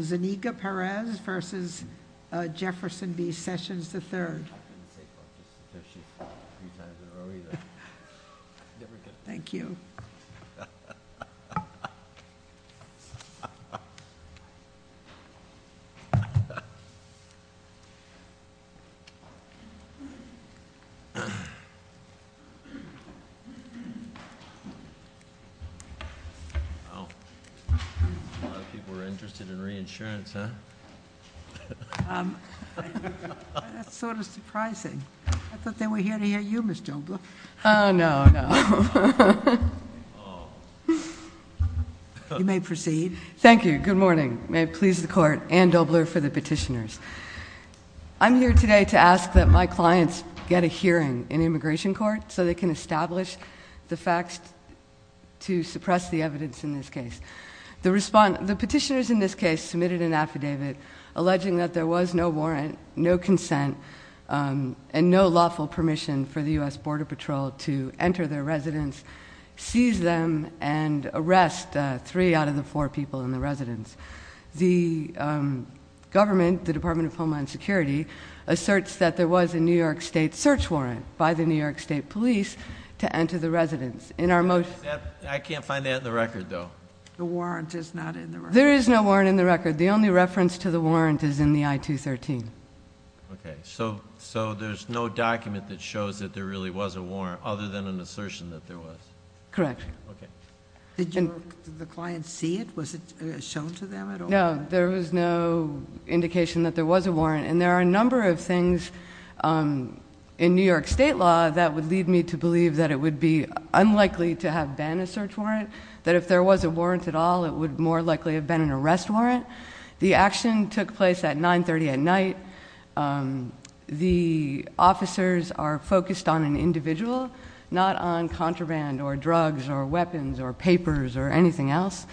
Zuniga-Perez v. Jefferson B. Sessions III. Thank you. I'm here today to ask that my clients get a hearing in immigration court so they can establish the facts to suppress the evidence in this case. The petitioners in this case submitted an affidavit alleging that there was no warrant, no consent, and no lawful permission for the U.S. Border Patrol to enter their residence, seize them, and arrest three out of the four people in the residence. The government, the Department of Homeland Security, asserts that there was a New York State search warrant by the New York State police to enter the residence. I can't find that in the record, though. The warrant is not in the record. There is no warrant in the record. The only reference to the warrant is in the I-213. Okay. So there's no document that shows that there really was a warrant other than an assertion that there was? Correct. Okay. No, there was no indication that there was a warrant. And there are a number of things in New York State law that would lead me to believe that it would be unlikely to have been a search warrant, that if there was a warrant at all, it would more likely have been an arrest warrant. The action took place at 930 at night. The officers are focused on an individual, not on contraband or drugs or weapons or papers or anything else.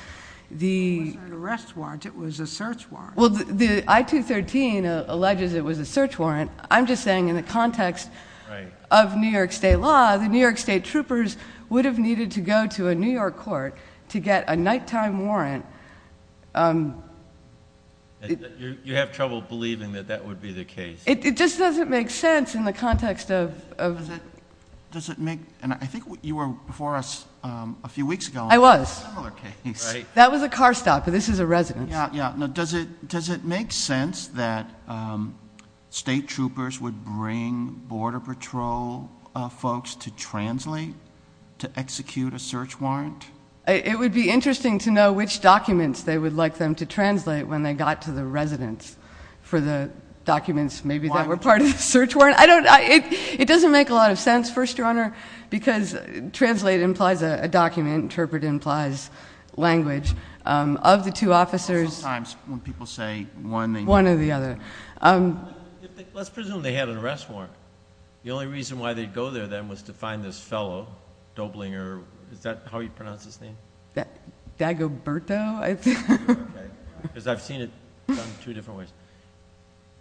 It wasn't an arrest warrant. It was a search warrant. Well, the I-213 alleges it was a search warrant. I'm just saying in the context of New York State law, the New York State troopers would have needed to go to a New York court to get a nighttime warrant. You have trouble believing that that would be the case. It just doesn't make sense in the context of... Does it make, and I think you were before us a few weeks ago. I was. That was a similar case. That was a car stop, but this is a residence. Does it make sense that State troopers would bring Border Patrol folks to translate to execute a search warrant? It would be interesting to know which documents they would like them to translate when they got to the residence for the documents maybe that were part of the search warrant. It doesn't make a lot of sense, First Your Honor, because translate implies a document. Interpret implies language. Of the two officers... Sometimes when people say one... One or the other. Let's presume they had an arrest warrant. The only reason why they'd go there then was to find this fellow, Doblinger. Is that how you pronounce his name? Dagoberto, I think. Because I've seen it done two different ways.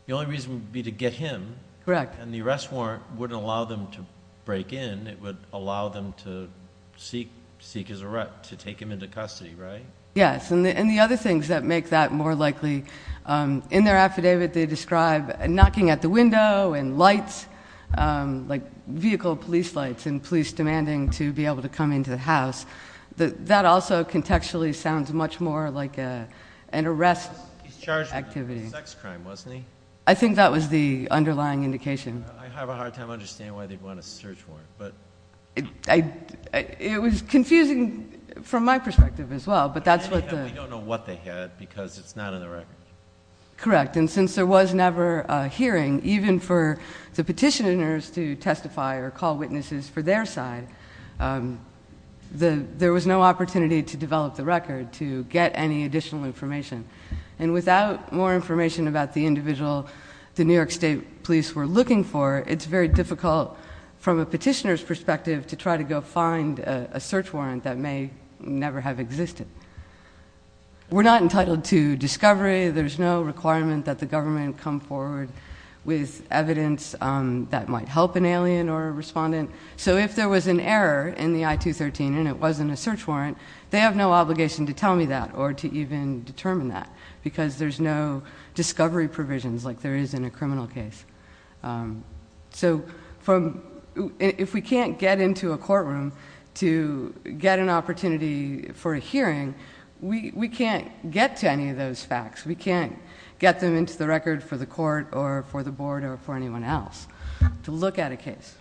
The only reason would be to get him. Correct. And the arrest warrant wouldn't allow them to break in. It would allow them to seek his arrest, to take him into custody, right? Yes, and the other things that make that more likely, in their affidavit they describe knocking at the window and lights, like vehicle police lights and police demanding to be able to come into the house. That also contextually sounds much more like an arrest activity. He was charged with a sex crime, wasn't he? I think that was the underlying indication. I have a hard time understanding why they'd want a search warrant. It was confusing from my perspective as well, but that's what the... We don't know what they had because it's not in the record. Correct, and since there was never a hearing, even for the petitioners to testify or call witnesses for their side, there was no opportunity to develop the record to get any additional information. And without more information about the individual the New York State police were looking for, it's very difficult from a petitioner's perspective to try to go find a search warrant that may never have existed. We're not entitled to discovery. There's no requirement that the government come forward with evidence that might help an alien or a respondent. So if there was an error in the I-213 and it wasn't a search warrant, they have no obligation to tell me that or to even determine that because there's no discovery provisions like there is in a criminal case. So if we can't get into a courtroom to get an opportunity for a hearing, we can't get to any of those facts. We can't get them into the record for the court or for the board or for anyone else to look at a case.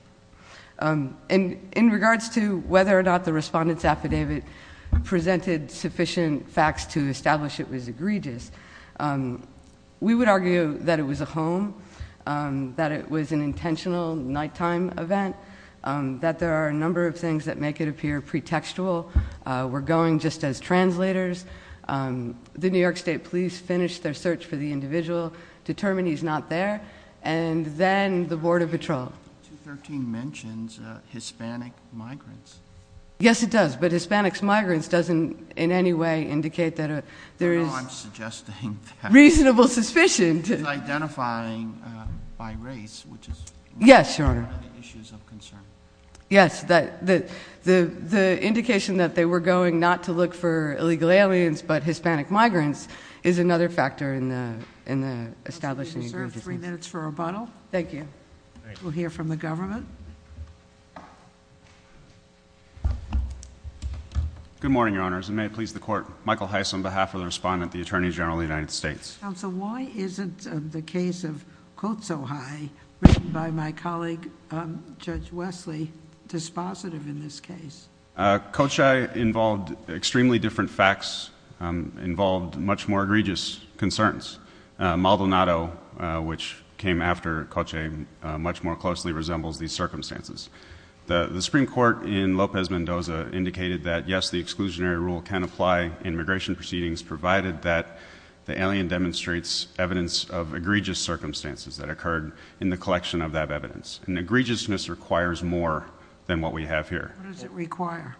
In regards to whether or not the respondent's affidavit presented sufficient facts to establish it was egregious, we would argue that it was a home, that it was an intentional nighttime event, that there are a number of things that make it appear pretextual. We're going just as translators. The New York State Police finished their search for the individual, determined he's not there, and then the Board of Patrol. 213 mentions Hispanic migrants. Yes, it does, but Hispanics migrants doesn't in any way indicate that there is- No, I'm suggesting that- Reasonable suspicion. He's identifying by race, which is- Yes, Your Honor. Issues of concern. Yes, the indication that they were going not to look for illegal aliens, but Hispanic migrants, is another factor in the establishment of egregiousness. Counsel, you have three minutes for rebuttal. Thank you. We'll hear from the government. Good morning, Your Honors, and may it please the court. Michael Heiss on behalf of the respondent, the Attorney General of the United States. Counsel, why isn't the case of Cochay written by my colleague, Judge Wesley, dispositive in this case? Cochay involved extremely different facts, involved much more egregious concerns. Maldonado, which came after Cochay, much more closely resembles these circumstances. The Supreme Court in Lopez Mendoza indicated that, yes, the exclusionary rule can apply in immigration proceedings, provided that the alien demonstrates evidence of egregious circumstances that occurred in the collection of that evidence. And egregiousness requires more than what we have here. What does it require?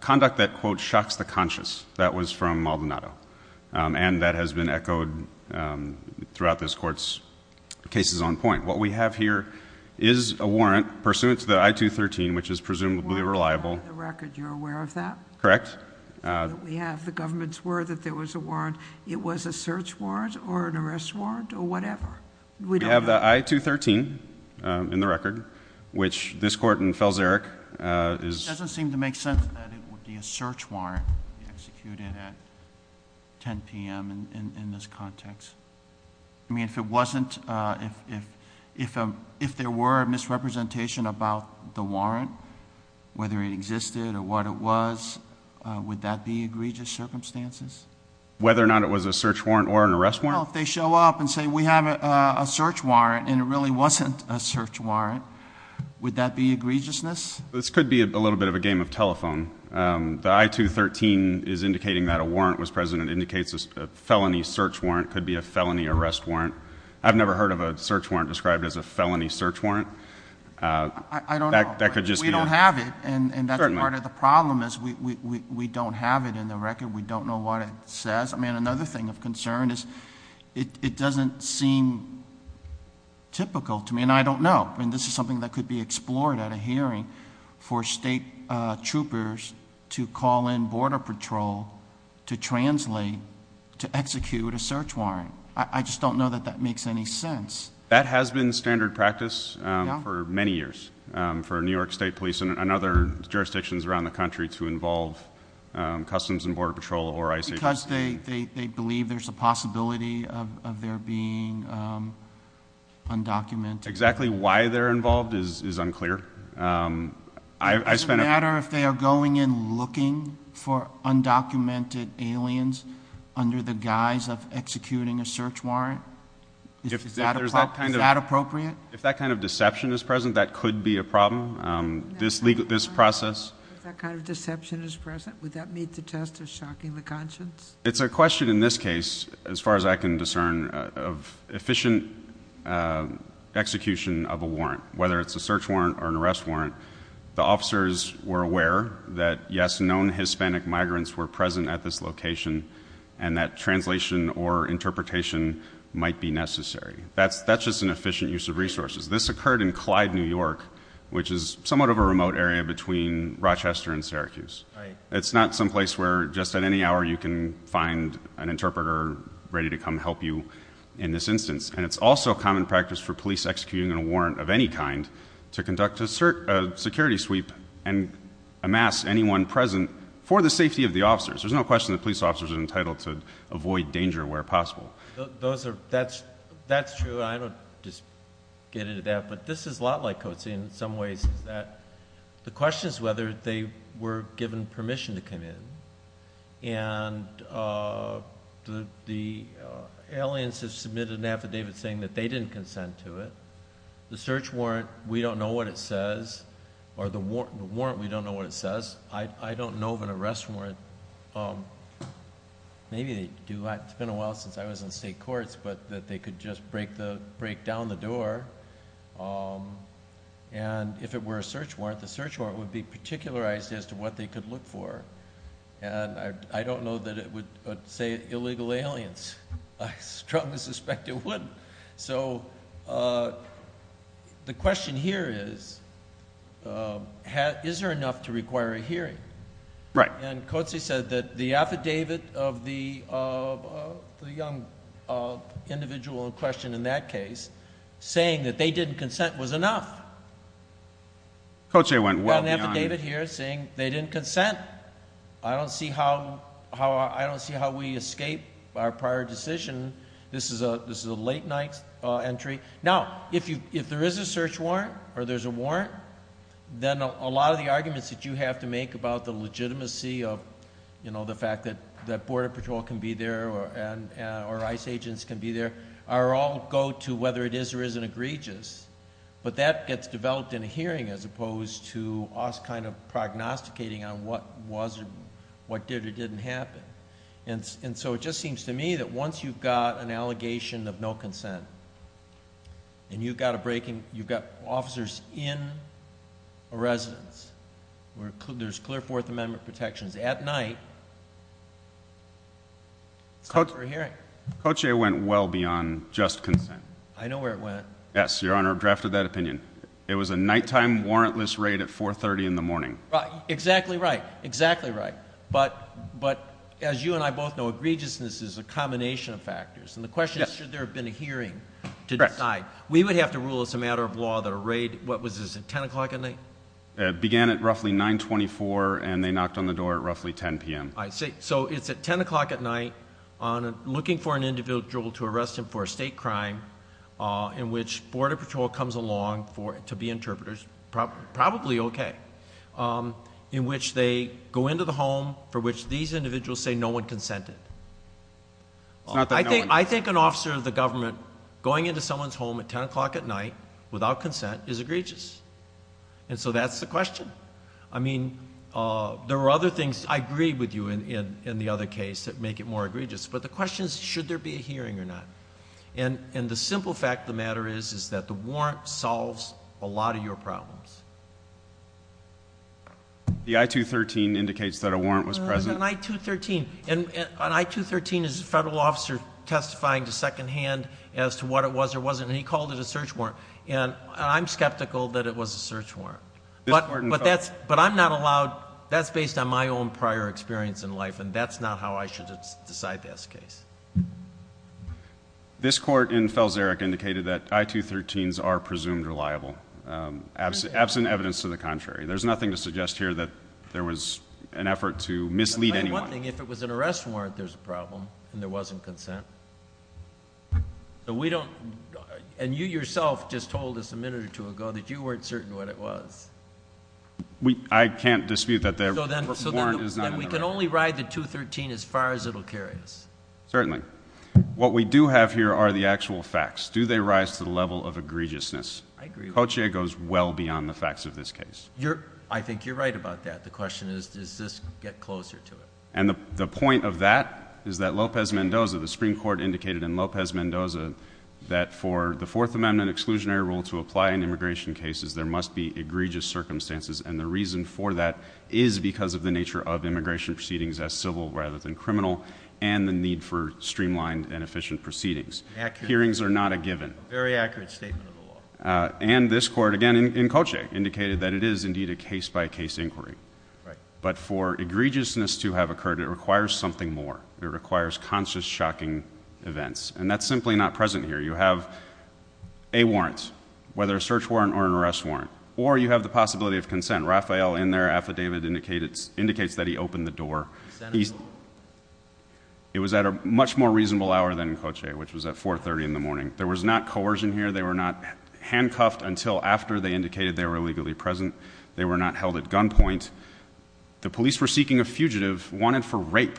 Conduct that, quote, shocks the conscious. That was from Maldonado. And that has been echoed throughout this Court's cases on point. What we have here is a warrant pursuant to the I-213, which is presumably reliable. Warrant by the record. You're aware of that? Correct. We have the government's word that there was a warrant. It was a search warrant or an arrest warrant or whatever. We don't know. We have the I-213 in the record, which this Court in Felserick is — It doesn't seem to make sense that it would be a search warrant executed at 10 p.m. in this context. I mean, if there were a misrepresentation about the warrant, whether it existed or what it was, would that be egregious circumstances? Whether or not it was a search warrant or an arrest warrant? Well, if they show up and say, we have a search warrant, and it really wasn't a search warrant, would that be egregiousness? This could be a little bit of a game of telephone. The I-213 is indicating that a warrant was present. It indicates a felony search warrant could be a felony arrest warrant. I've never heard of a search warrant described as a felony search warrant. I don't know. We don't have it, and that's part of the problem is we don't have it in the record. We don't know what it says. I mean, another thing of concern is it doesn't seem typical to me, and I don't know. I mean, this is something that could be explored at a hearing for state troopers to call in Border Patrol to translate, to execute a search warrant. I just don't know that that makes any sense. That has been standard practice for many years for New York State Police and other jurisdictions around the country to involve Customs and Border Patrol or ICE. Because they believe there's a possibility of there being undocumented. Exactly why they're involved is unclear. I spent... Does it matter if they are going in looking for undocumented aliens under the guise of executing a search warrant? Is that appropriate? If that kind of deception is present, that could be a problem. This process... If that kind of deception is present, would that meet the test of shocking the conscience? It's a question in this case, as far as I can discern, of efficient execution of a warrant, whether it's a search warrant or an arrest warrant. The officers were aware that, yes, known Hispanic migrants were present at this location, and that translation or interpretation might be necessary. That's just an efficient use of resources. This occurred in Clyde, New York, which is somewhat of a remote area between Rochester and Syracuse. It's not someplace where, just at any hour, you can find an interpreter ready to come help you in this instance. It's also common practice for police executing a warrant of any kind to conduct a security sweep and amass anyone present for the safety of the officers. There's no question that police officers are entitled to avoid danger where possible. That's true. I don't just get into that. This is a lot like Coetzee in some ways. The question is whether they were given permission to come in. The aliens have submitted an affidavit saying that they didn't consent to it. The search warrant, we don't know what it says, or the warrant, we don't know what it says. I don't know of an arrest warrant. Maybe they do. It's been a while since I was in state courts, but they could just break down the door. If it were a search warrant, the search warrant would be particularized as to what they could look for. I don't know that it would say illegal aliens. I strongly suspect it wouldn't. The question here is, is there enough to require a hearing? Right. And Coetzee said that the affidavit of the young individual in question in that case, saying that they didn't consent, was enough. Coetzee went well beyond. We've got an affidavit here saying they didn't consent. I don't see how we escape our prior decision. This is a late-night entry. Now, if there is a search warrant or there's a warrant, then a lot of the arguments that you have to make about the legitimacy of the fact that Border Patrol can be there or ICE agents can be there all go to whether it is or isn't egregious. But that gets developed in a hearing as opposed to us kind of prognosticating on what did or didn't happen. And so it just seems to me that once you've got an allegation of no consent and you've got officers in a residence where there's clear Fourth Amendment protections at night, it's time for a hearing. Coetzee went well beyond just consent. I know where it went. Yes, Your Honor, drafted that opinion. It was a nighttime warrantless raid at 430 in the morning. Exactly right. Exactly right. But as you and I both know, egregiousness is a combination of factors, and the question is should there have been a hearing to decide. We would have to rule as a matter of law that a raid, what was this, at 10 o'clock at night? It began at roughly 924, and they knocked on the door at roughly 10 p.m. I see. So it's at 10 o'clock at night looking for an individual to arrest him for a state crime in which Border Patrol comes along to be interpreters, probably okay, in which they go into the home for which these individuals say no one consented. I think an officer of the government going into someone's home at 10 o'clock at night without consent is egregious. And so that's the question. I mean, there are other things I agree with you in the other case that make it more egregious, but the question is should there be a hearing or not. And the simple fact of the matter is that the warrant solves a lot of your problems. The I-213 indicates that a warrant was present. It was an I-213. An I-213 is a federal officer testifying to secondhand as to what it was or wasn't, and he called it a search warrant, and I'm skeptical that it was a search warrant. But I'm not allowed. That's based on my own prior experience in life, and that's not how I should decide this case. This court in Felserick indicated that I-213s are presumed reliable, absent evidence to the contrary. There's nothing to suggest here that there was an effort to mislead anyone. One thing, if it was an arrest warrant, there's a problem, and there wasn't consent. And you yourself just told us a minute or two ago that you weren't certain what it was. I can't dispute that the warrant is not an arrest warrant. So then we can only ride the I-213 as far as it will carry us. Certainly. What we do have here are the actual facts. Do they rise to the level of egregiousness? I agree with you. Cochia goes well beyond the facts of this case. I think you're right about that. The question is, does this get closer to it? And the point of that is that Lopez Mendoza, the Supreme Court, indicated in Lopez Mendoza that for the Fourth Amendment exclusionary rule to apply in immigration cases, there must be egregious circumstances, and the reason for that is because of the nature of immigration proceedings as civil rather than criminal and the need for streamlined and efficient proceedings. Hearings are not a given. A very accurate statement of the law. And this Court, again, in Cochia, indicated that it is indeed a case-by-case inquiry. But for egregiousness to have occurred, it requires something more. It requires conscious, shocking events. And that's simply not present here. You have a warrant, whether a search warrant or an arrest warrant, or you have the possibility of consent. Rafael, in their affidavit, indicates that he opened the door. It was at a much more reasonable hour than Cochia, which was at 4.30 in the morning. There was not coercion here. They were not handcuffed until after they indicated they were illegally present. They were not held at gunpoint. The police were seeking a fugitive wanted for rape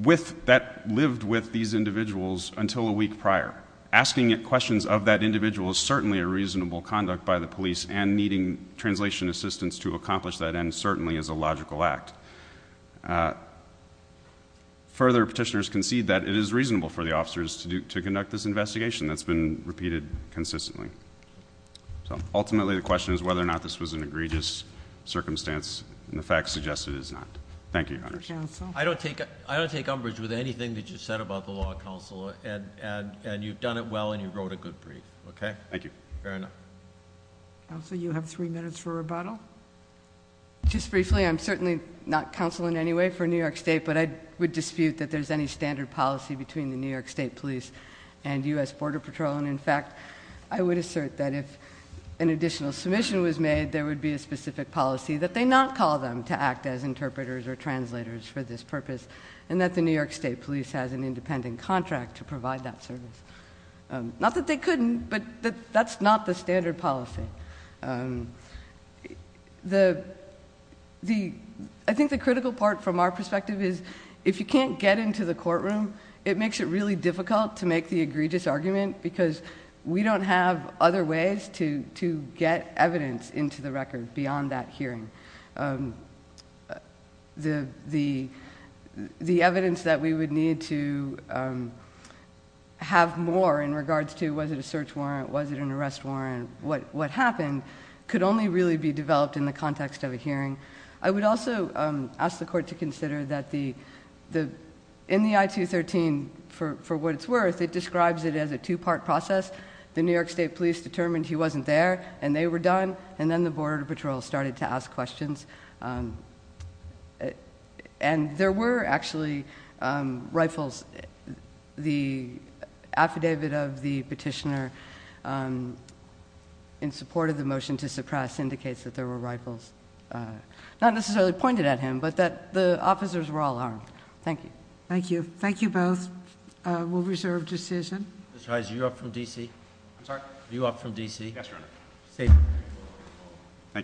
that lived with these individuals until a week prior. Asking questions of that individual is certainly a reasonable conduct by the police, and needing translation assistance to accomplish that end certainly is a logical act. Further, petitioners concede that it is reasonable for the officers to conduct this investigation that's been repeated consistently. So ultimately the question is whether or not this was an egregious circumstance, and the fact suggests it is not. Thank you, Your Honors. Thank you, Counsel. I don't take umbrage with anything that you said about the law, Counsel, and you've done it well and you wrote a good brief, okay? Thank you. Fair enough. Counsel, you have three minutes for rebuttal. Just briefly, I'm certainly not counseling in any way for New York State, but I would dispute that there's any standard policy between the New York State police and U.S. Border Patrol, and in fact, I would assert that if an additional submission was made, there would be a specific policy that they not call them to act as interpreters or translators for this purpose, and that the New York State police has an independent contract to provide that service. Not that they couldn't, but that's not the standard policy. I think the critical part from our perspective is if you can't get into the courtroom, it makes it really difficult to make the egregious argument because we don't have other ways to get evidence into the record beyond that hearing. The evidence that we would need to have more in regards to was it a search warrant, was it an arrest warrant, what happened, could only really be developed in the context of a hearing. I would also ask the Court to consider that in the I-213, for what it's worth, it describes it as a two-part process. The New York State police determined he wasn't there, and they were done, and then the Border Patrol started to ask questions. And there were actually rifles. The affidavit of the petitioner in support of the motion to suppress indicates that there were rifles. Not necessarily pointed at him, but that the officers were all armed. Thank you. Thank you. Thank you both. We'll reserve decision. Mr. Heise, are you up from D.C.? I'm sorry? Are you up from D.C.? Yes, Your Honor. Thank you.